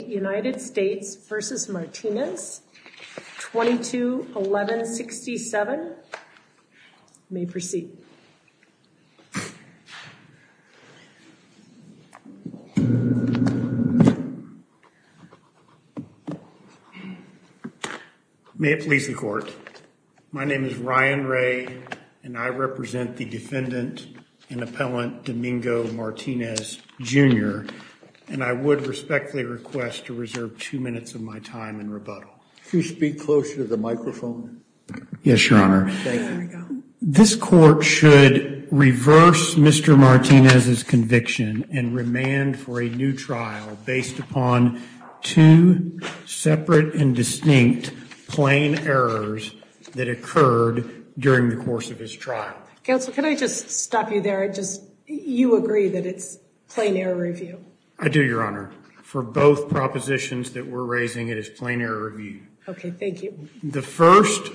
United States v. Martinez, 22-11-67. May proceed. May it please the court. My name is Ryan Ray and I represent the defendant and I request to reserve two minutes of my time in rebuttal. Could you speak closer to the microphone? Yes, Your Honor. This court should reverse Mr. Martinez's conviction and remand for a new trial based upon two separate and distinct plain errors that occurred during the course of his trial. Counsel, can I just stop you there? I just, you agree that it's plain error review. I do, Your Honor. For both propositions that we're raising, it is plain error review. Okay. Thank you. The first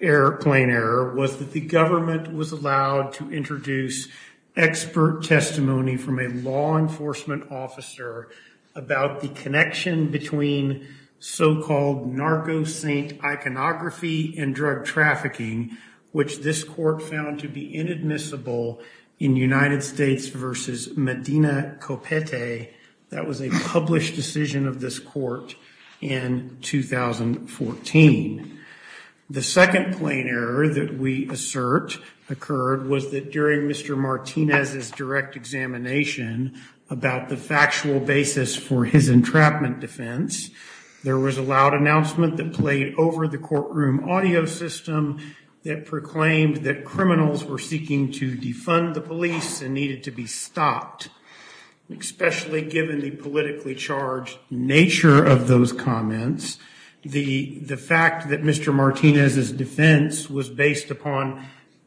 error, plain error, was that the government was allowed to introduce expert testimony from a law enforcement officer about the connection between so-called narco-saint iconography and drug trafficking, which this court found to be inadmissible in United States v. Medina Copete. That was a published decision of this court in 2014. The second plain error that we assert occurred was that during Mr. Martinez's direct examination about the factual basis for his entrapment defense, there was a loud announcement that played over the courtroom audio system that proclaimed that criminals were seeking to defund the police and needed to be stopped, especially given the politically charged nature of those comments. The fact that Mr. Martinez's defense was based upon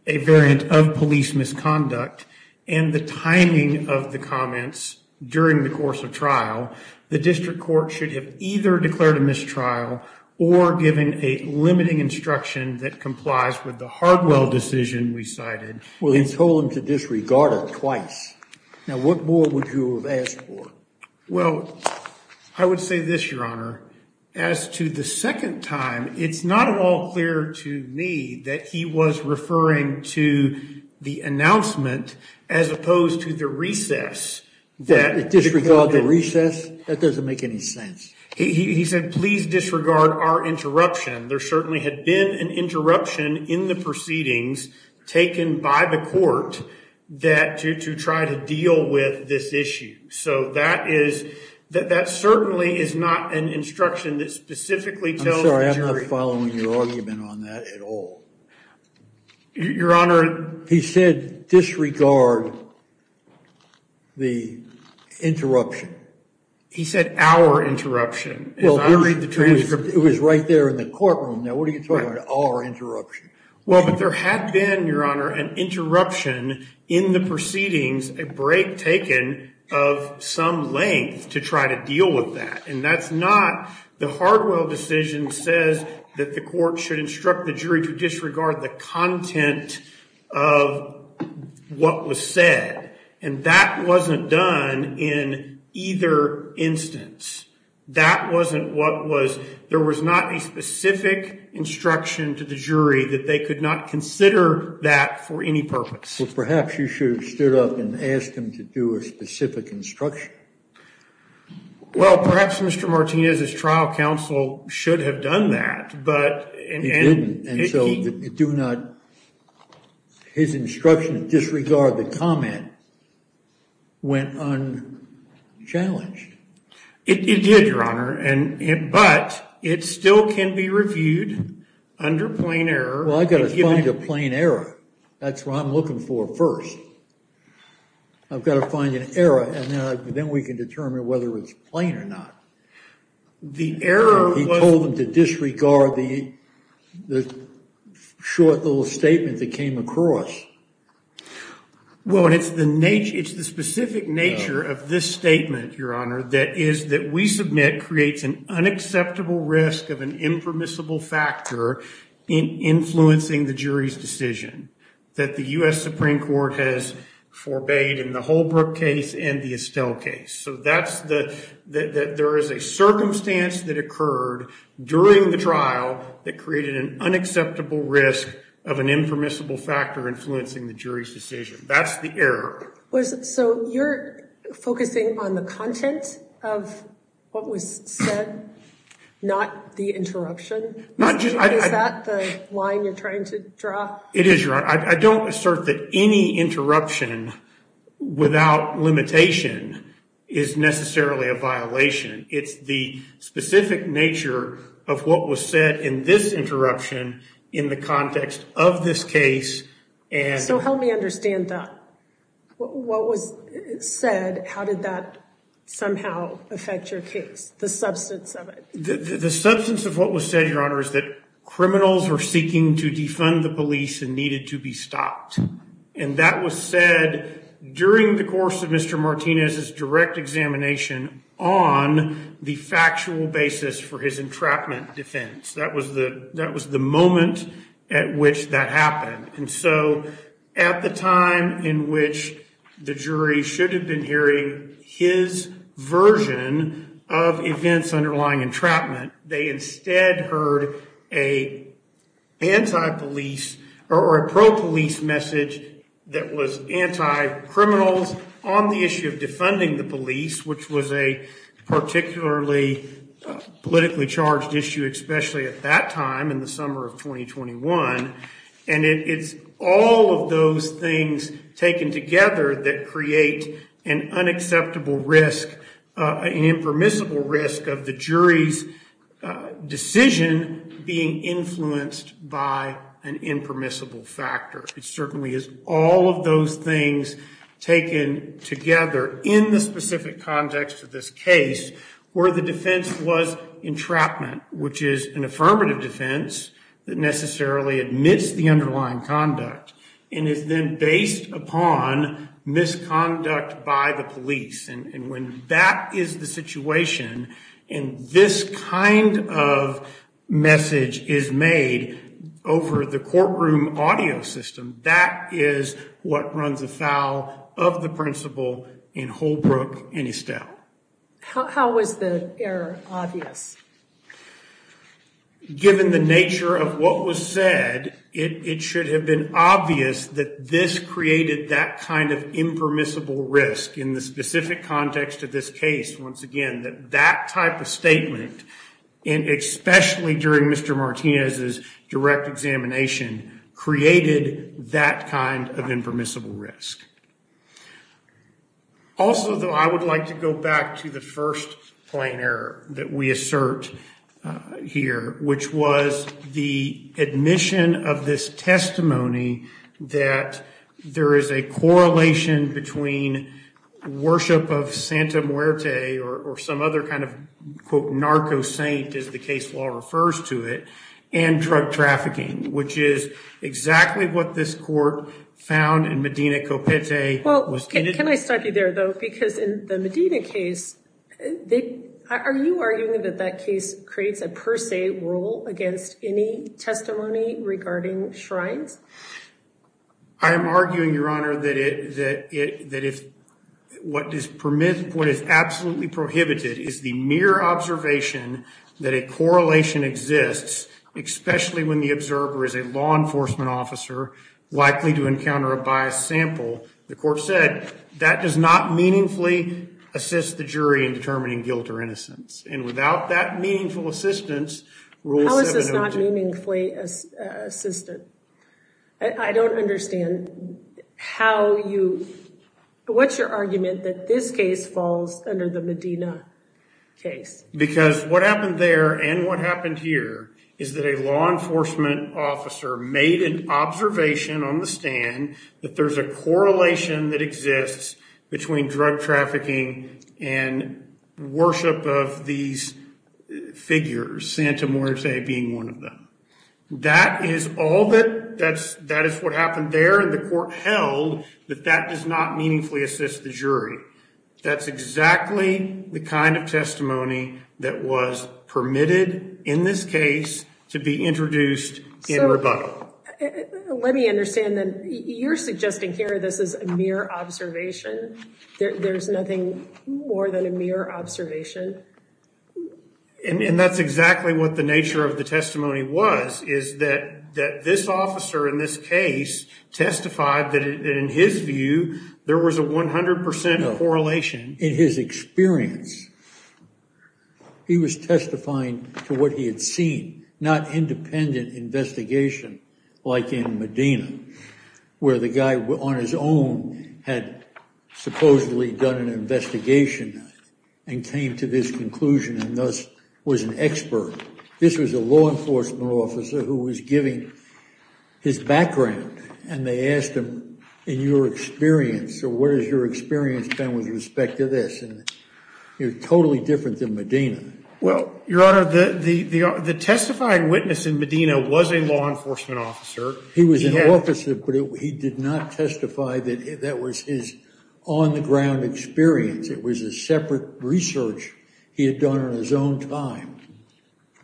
a variant of police misconduct and the timing of the comments during the course of trial, the district court should have either declared a mistrial or given a limiting instruction that complies with the Hardwell decision we cited. Well, he told him to disregard it twice. Now, what more would you have asked for? Well, I would say this, Your Honor, as to the second time, it's not at all clear to me that he was referring to the announcement as opposed to the recess. That disregard the recess? That doesn't make any sense. He said, please disregard our interruption. There certainly had been an interruption in the proceedings taken by the court to try to deal with this issue. So that certainly is not an instruction that specifically tells the jury. I'm sorry, I'm not following your argument on that at all. Your Honor. He said disregard the interruption. He said our interruption. If I read the transcript. It was right there in the courtroom. Now, what are you talking about our interruption? Well, but there had been, Your Honor, an interruption in the proceedings, a break taken of some length to try to deal with that. And that's not, the Hardwell decision says that the court should instruct the jury to disregard the content of what was said. And that wasn't done in either instance. That wasn't what was, there was not a specific instruction to the jury that they could not consider that for any purpose. Well, perhaps you should have stood up and asked him to do a specific instruction. Well, perhaps Mr. Martinez's trial counsel should have done that. But it didn't. And so it do not, his instruction to disregard It did, Your Honor. And, but it still can be reviewed under plain error. Well, I got to find a plain error. That's what I'm looking for first. I've got to find an error and then we can determine whether it's plain or not. The error, he told them to disregard the short little statement that came across. Your Honor, that is that we submit creates an unacceptable risk of an impermissible factor in influencing the jury's decision that the U.S. Supreme Court has forbade in the Holbrook case and the Estelle case. So that's the, that there is a circumstance that occurred during the trial that created an unacceptable risk of an impermissible factor influencing the jury's decision. That's the error. So you're focusing on the content of what was said, not the interruption. Is that the line you're trying to draw? It is, Your Honor. I don't assert that any interruption without limitation is necessarily a violation. It's the specific nature of what was said in this interruption in the context of this case. So help me understand that. What was said, how did that somehow affect your case, the substance of it? The substance of what was said, Your Honor, is that criminals were seeking to defund the police and needed to be stopped. And that was said during the course of Mr. Martinez's direct examination on the factual basis for his entrapment defense. That was the moment at which that happened. And so at the time in which the jury should have been hearing his version of events underlying entrapment, they instead heard a pro-police message that was anti-criminals on the issue of defunding the police, which was a particularly politically charged issue, especially at that time in the summer of 2021. And it's all of those things taken together that create an unacceptable risk, an impermissible risk of the jury's decision being influenced by an impermissible factor. It certainly is all of those things taken together in the specific context of this case where the defense was entrapment, which is an affirmative defense that necessarily admits the underlying conduct and is then based upon misconduct by the police. And when that is the situation and this kind of message is made over the courtroom audio system, that is what runs afoul of the principle in Holbrook and Estelle. How was the error obvious? Given the nature of what was said, it should have been obvious that this created that kind of impermissible risk in the specific context of this case. Once again, that type of statement, and especially during Mr. Martinez's direct examination, created that kind of impermissible risk. Also, though, I would like to go back to the first plain error that we assert here, which was the admission of this testimony that there is a correlation between worship of Santa Muerte or some other kind of, quote, narco saint, as the case law refers to it, and drug trafficking, which is exactly what this court found in Medina Copete. Well, can I stop you there, though, because in the Medina case, are you arguing that that case creates a per se rule against any testimony regarding shrines? I am arguing, Your Honor, that what is absolutely prohibited is the mere observation that a correlation exists, especially when the observer is a law enforcement officer likely to encounter a biased sample. The court said that does not meaningfully assist the jury in determining guilt or innocence. And without that meaningful assistance, Rule 702... How is this not meaningfully assistant? I don't understand how you, what's your argument that this case falls under the Medina case? Because what happened there and what happened here is that a law enforcement officer made an observation on the stand that there's a correlation that exists between drug trafficking and worship of these figures, Santa Muerte being one of them. That is all that, that is what happened there, and the court held that that does not meaningfully assist the jury. That's exactly the kind of testimony that was permitted in this case to be introduced in rebuttal. Let me understand then, you're suggesting here, this is a mere observation? There's nothing more than a mere observation? And that's exactly what the nature of the testimony was, is that this officer in this case testified that in his view, there was a 100% correlation. In his experience, he was testifying to what he had seen, not independent investigation like in Medina, where the guy on his own had supposedly done an investigation and came to this conclusion and thus was an expert. This was a law enforcement officer who was giving his background and they asked him, in your experience, so what has your experience been with respect to this? And you're totally different than Medina. Well, Your Honor, the testifying witness in Medina was a law enforcement officer. He was an officer, but he did not testify that that was his on the ground experience. It was a separate research he had done on his own time.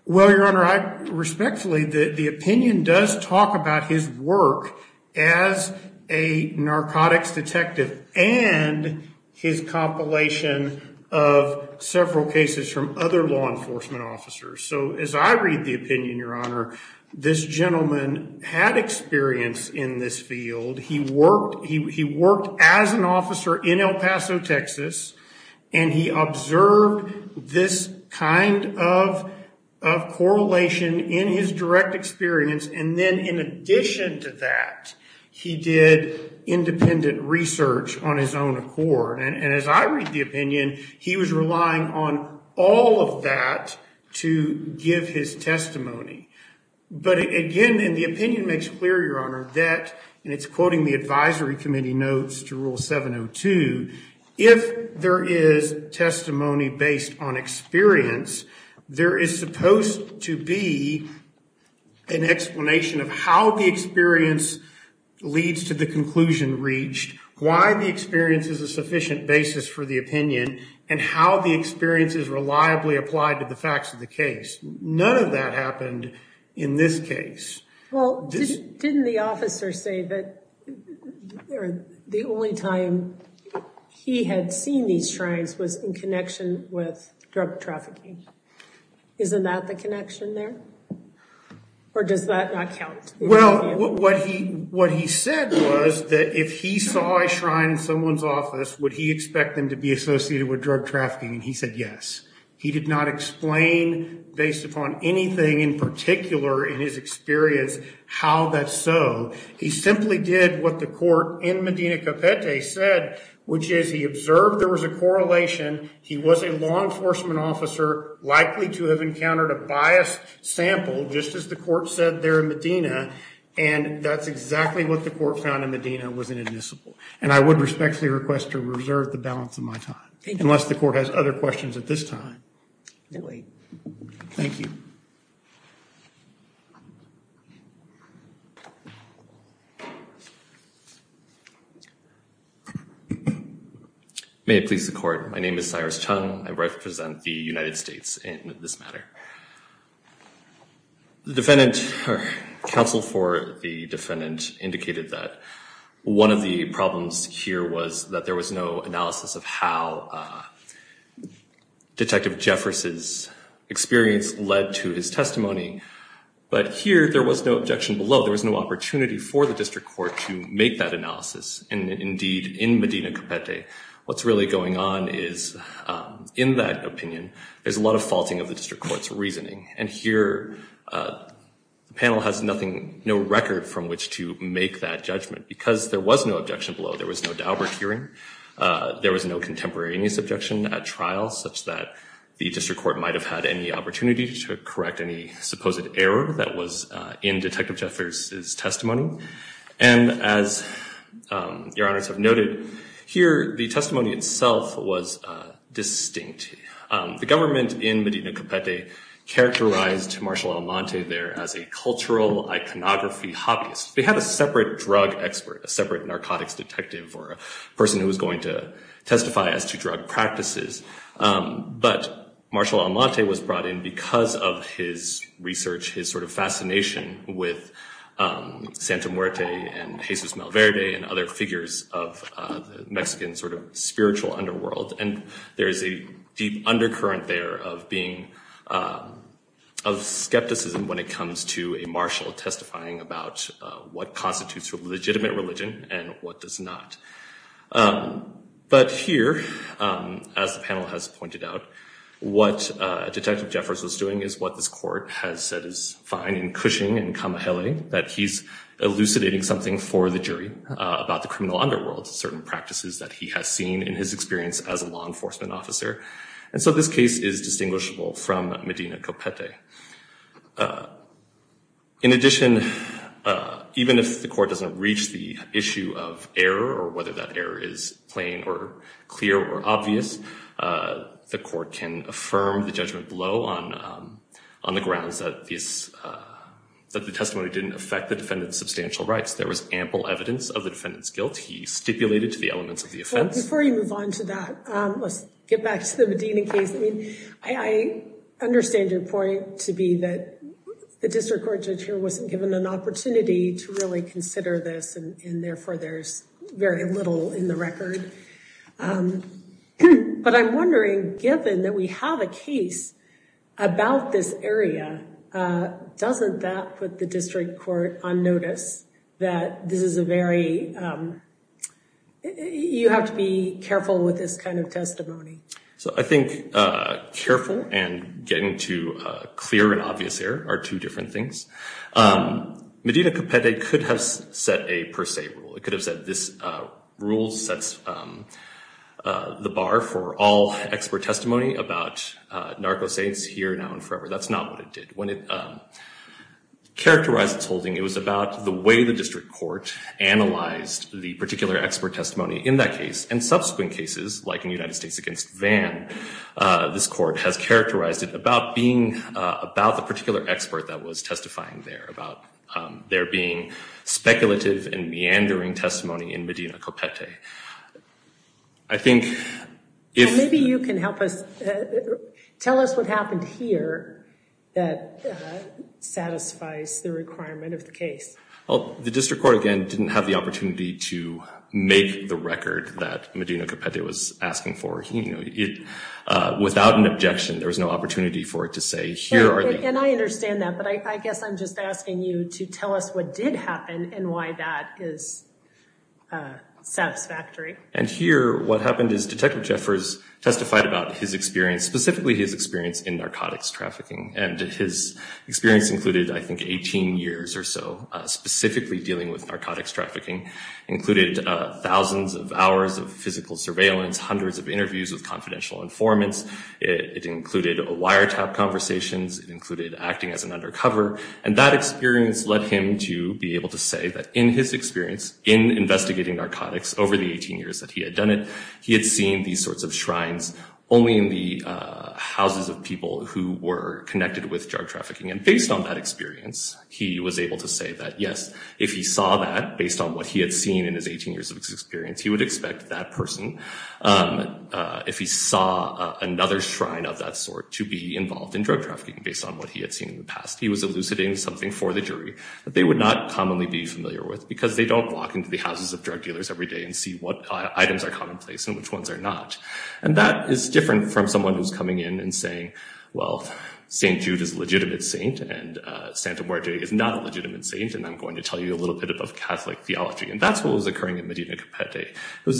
Well, Your Honor, I respectfully, the opinion does talk about his work as a narcotics detective and his compilation of several cases from other law enforcement officers. So as I read the opinion, Your Honor, this gentleman had experience in this field. He worked as an officer in El Paso, Texas, and he observed this kind of correlation in his direct experience. And then in addition to that, he did independent research on his own accord. And as I read the opinion, he was relying on all of that to give his testimony. But again, and the opinion makes clear, Your Honor, that, and it's quoting the advisory committee notes to rule 702, if there is testimony based on experience, there is supposed to be an explanation of how the experience leads to the basis for the opinion and how the experience is reliably applied to the facts of the case. None of that happened in this case. Well, didn't the officer say that the only time he had seen these shrines was in connection with drug trafficking? Isn't that the connection there? Or does that not count? Well, what he said was that if he saw a shrine in someone's life, he'd expect them to be associated with drug trafficking. And he said, yes. He did not explain, based upon anything in particular in his experience, how that's so. He simply did what the court in Medina Capete said, which is he observed there was a correlation. He was a law enforcement officer likely to have encountered a biased sample, just as the court said there in Medina. And that's exactly what the court found in Medina was inadmissible. And I would respectfully request to reserve the balance of my time, unless the court has other questions at this time. Thank you. May it please the court. My name is Cyrus Chung. I represent the United States in this matter. The defendant, or counsel for the defendant, indicated that one of the problems here was that there was no analysis of how Detective Jefferson's experience led to his testimony. But here, there was no objection below. There was no opportunity for the district court to make that analysis. And indeed, in Medina Capete, what's really going on is in that opinion, there's a lot of faulting of the district court's reasoning. And here, the panel has no record from which to make that judgment, because there was no objection below. There was no Daubert hearing. There was no contemporaneous objection at trial, such that the district court might have had any opportunity to correct any supposed error that was in Detective Jefferson's testimony. And as your honors have noted here, the testimony itself was distinct. The government in Medina Capete characterized Marshall Almonte there as a cultural iconography hobbyist. They had a separate drug expert, a separate narcotics detective, or a person who was going to testify as to drug practices. But Marshall Almonte was brought in because of his research, his sort of fascination with Santa Muerte and Jesus Malverde and other figures of the Mexican sort of spiritual underworld. And there is a deep undercurrent there of skepticism when it comes to a marshal testifying about what constitutes a legitimate religion and what does not. But here, as the panel has pointed out, what Detective Jeffers was doing is what this court has said is fine in Cushing and Camahele, that he's elucidating something for the jury about the criminal underworld, certain practices that he has seen in his experience as a law enforcement officer. And so this case is distinguishable from Medina Capete. In addition, even if the court doesn't reach the issue of error or whether that error is plain or clear or obvious, the court can affirm the judgment below on the grounds that the testimony didn't affect the defendant's substantial rights. There was ample evidence of the defendant's guilt. He stipulated to the elements of the offense. Before you move on to that, let's get back to the Medina case. I understand your point to be that the District Court judge here wasn't given an opportunity to really consider this and therefore there's very little in the record. But I'm wondering, given that we have a case about this area, doesn't that put the District Court on notice that this is a very, you have to be careful with this kind of testimony. So I think careful and getting to clear and obvious error are two different things. Medina Capete could have set a per se rule. It could have said this rule sets the bar for all expert testimony about narco saints here now and forever. That's not what it did. When it characterized its holding, it was about the way the District Court analyzed the particular expert testimony in that case and subsequent cases like in United States against Vann, this court has characterized it about being about the particular expert that was testifying there, about there being speculative and meandering testimony in Medina Capete. I think if... Maybe you can help us, tell us what happened here that satisfies the requirement of the case. The District Court again didn't have the opportunity to make the record that Medina Capete was asking for. Without an objection, there was no opportunity for it to say here are the... And I understand that, but I guess I'm just asking you to tell us what did happen and why that is satisfactory. And here what happened is Detective Jeffers testified about his experience, specifically his experience in narcotics trafficking, and his experience included, I think, 18 years or so, specifically dealing with narcotics thousands of hours of physical surveillance, hundreds of interviews with confidential informants. It included a wiretap conversations, it included acting as an undercover, and that experience led him to be able to say that in his experience in investigating narcotics over the 18 years that he had done it, he had seen these sorts of shrines only in the houses of people who were connected with drug trafficking. And based on that experience, he was able to say that yes, if he saw that based on what he had seen in his 18 years of experience, he would expect that person, if he saw another shrine of that sort, to be involved in drug trafficking based on what he had seen in the past. He was elucidating something for the jury that they would not commonly be familiar with because they don't walk into the houses of drug dealers every day and see what items are commonplace and which ones are not. And that is different from someone who's coming in and saying, well, St. Jude is a legitimate saint and Santa Maria is not a legitimate saint, and I'm going to tell you a little bit about Catholic theology. And that's what was the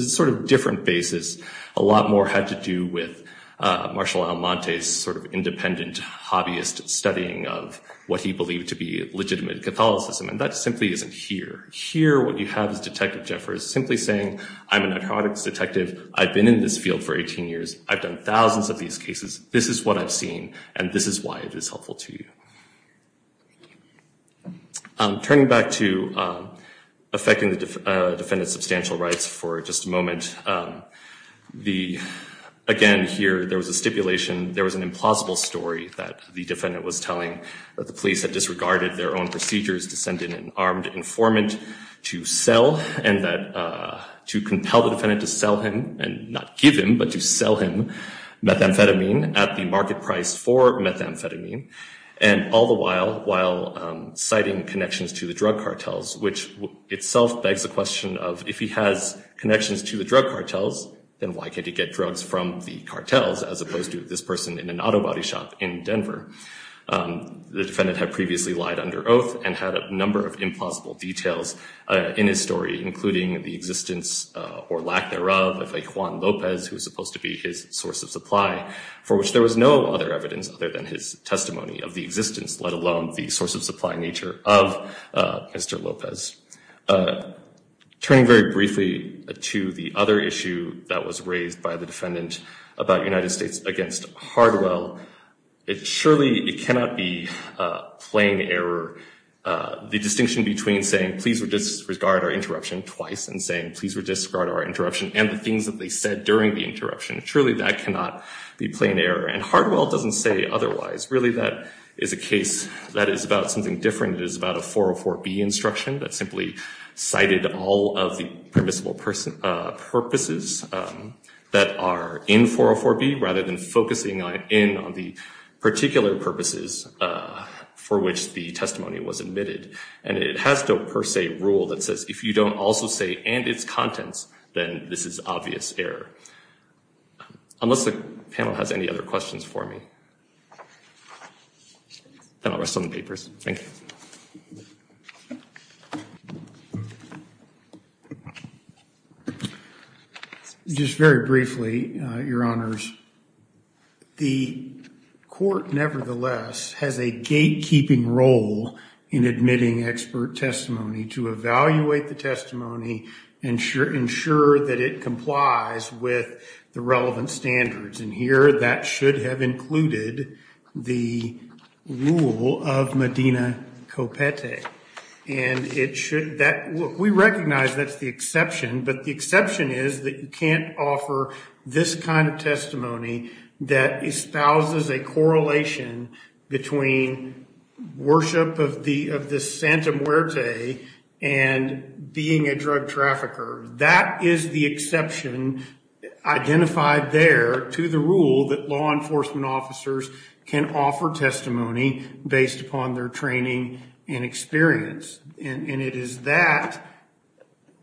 sort of different basis. A lot more had to do with Marshall Almonte's sort of independent hobbyist studying of what he believed to be legitimate Catholicism. And that simply isn't here. Here, what you have is Detective Jeffers simply saying, I'm a narcotics detective. I've been in this field for 18 years. I've done thousands of these cases. This is what I've seen and this is why it is helpful to you. Turning back to affecting the defendant's substantial rights for just a moment. Again, here, there was a stipulation. There was an implausible story that the defendant was telling that the police had disregarded their own procedures to send in an armed informant to sell and to compel the defendant to sell him, and not give him, but to sell him methamphetamine at the market price for methamphetamine. And all the while, citing connections to the drug cartels, which itself begs a question of, if he has connections to the drug cartels, then why can't he get drugs from the cartels, as opposed to this person in an auto body shop in Denver? The defendant had previously lied under oath and had a number of implausible details in his story, including the existence or lack thereof of a Juan Lopez, who was supposed to be his source of supply, for which there was no other evidence other than his testimony of the existence, let alone the source of supply nature of Mr. Lopez. Turning very briefly to the other issue that was raised by the defendant about United States against Hardwell, it surely, it cannot be plain error. The distinction between saying, please disregard our interruption twice, and saying, please disregard our interruption, and the things that they said during the interruption, truly that cannot be plain error. And Hardwell doesn't say otherwise. Really, that is a case that is about something different. It is about a 404B instruction that simply cited all of the permissible purposes that are in 404B, rather than focusing in on the particular purposes for which the testimony was admitted. And it has no per se rule that says, if you don't also say, and its contents, then this is obvious error. Unless the panel has any other questions for me. Then I'll rest on the papers. Just very briefly, Your Honors. The court, nevertheless, has a gatekeeping role in admitting expert testimony to evaluate the testimony and ensure that it complies with the relevant standards. And here, that should have included the rule of Medina Copete. And it should, we recognize that's the exception, but the exception is that you can't offer this kind of testimony that espouses a correlation between worship of the Santa Muerte and being a drug trafficker. That is the exception identified there to the rule that law enforcement officers can offer testimony based upon their training and experience. And it is that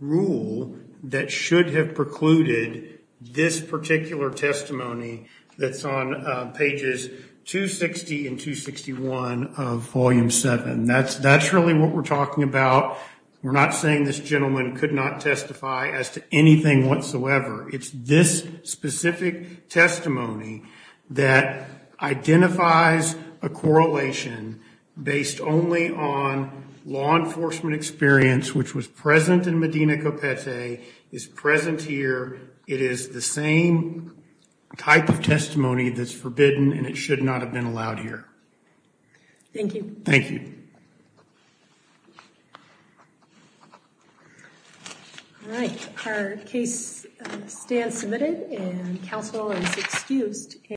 rule that should have precluded this particular testimony that's on pages 260 and 261 of volume 7. That's really what we're talking about. We're not saying this gentleman could not testify as to anything whatsoever. It's this specific testimony that identifies a correlation based only on law enforcement experience, which was present in Medina Copete, is present here. It is the same type of testimony that's forbidden and it should not have been allowed here. Thank you. Thank you. All right, our case stands submitted and counsel is excused.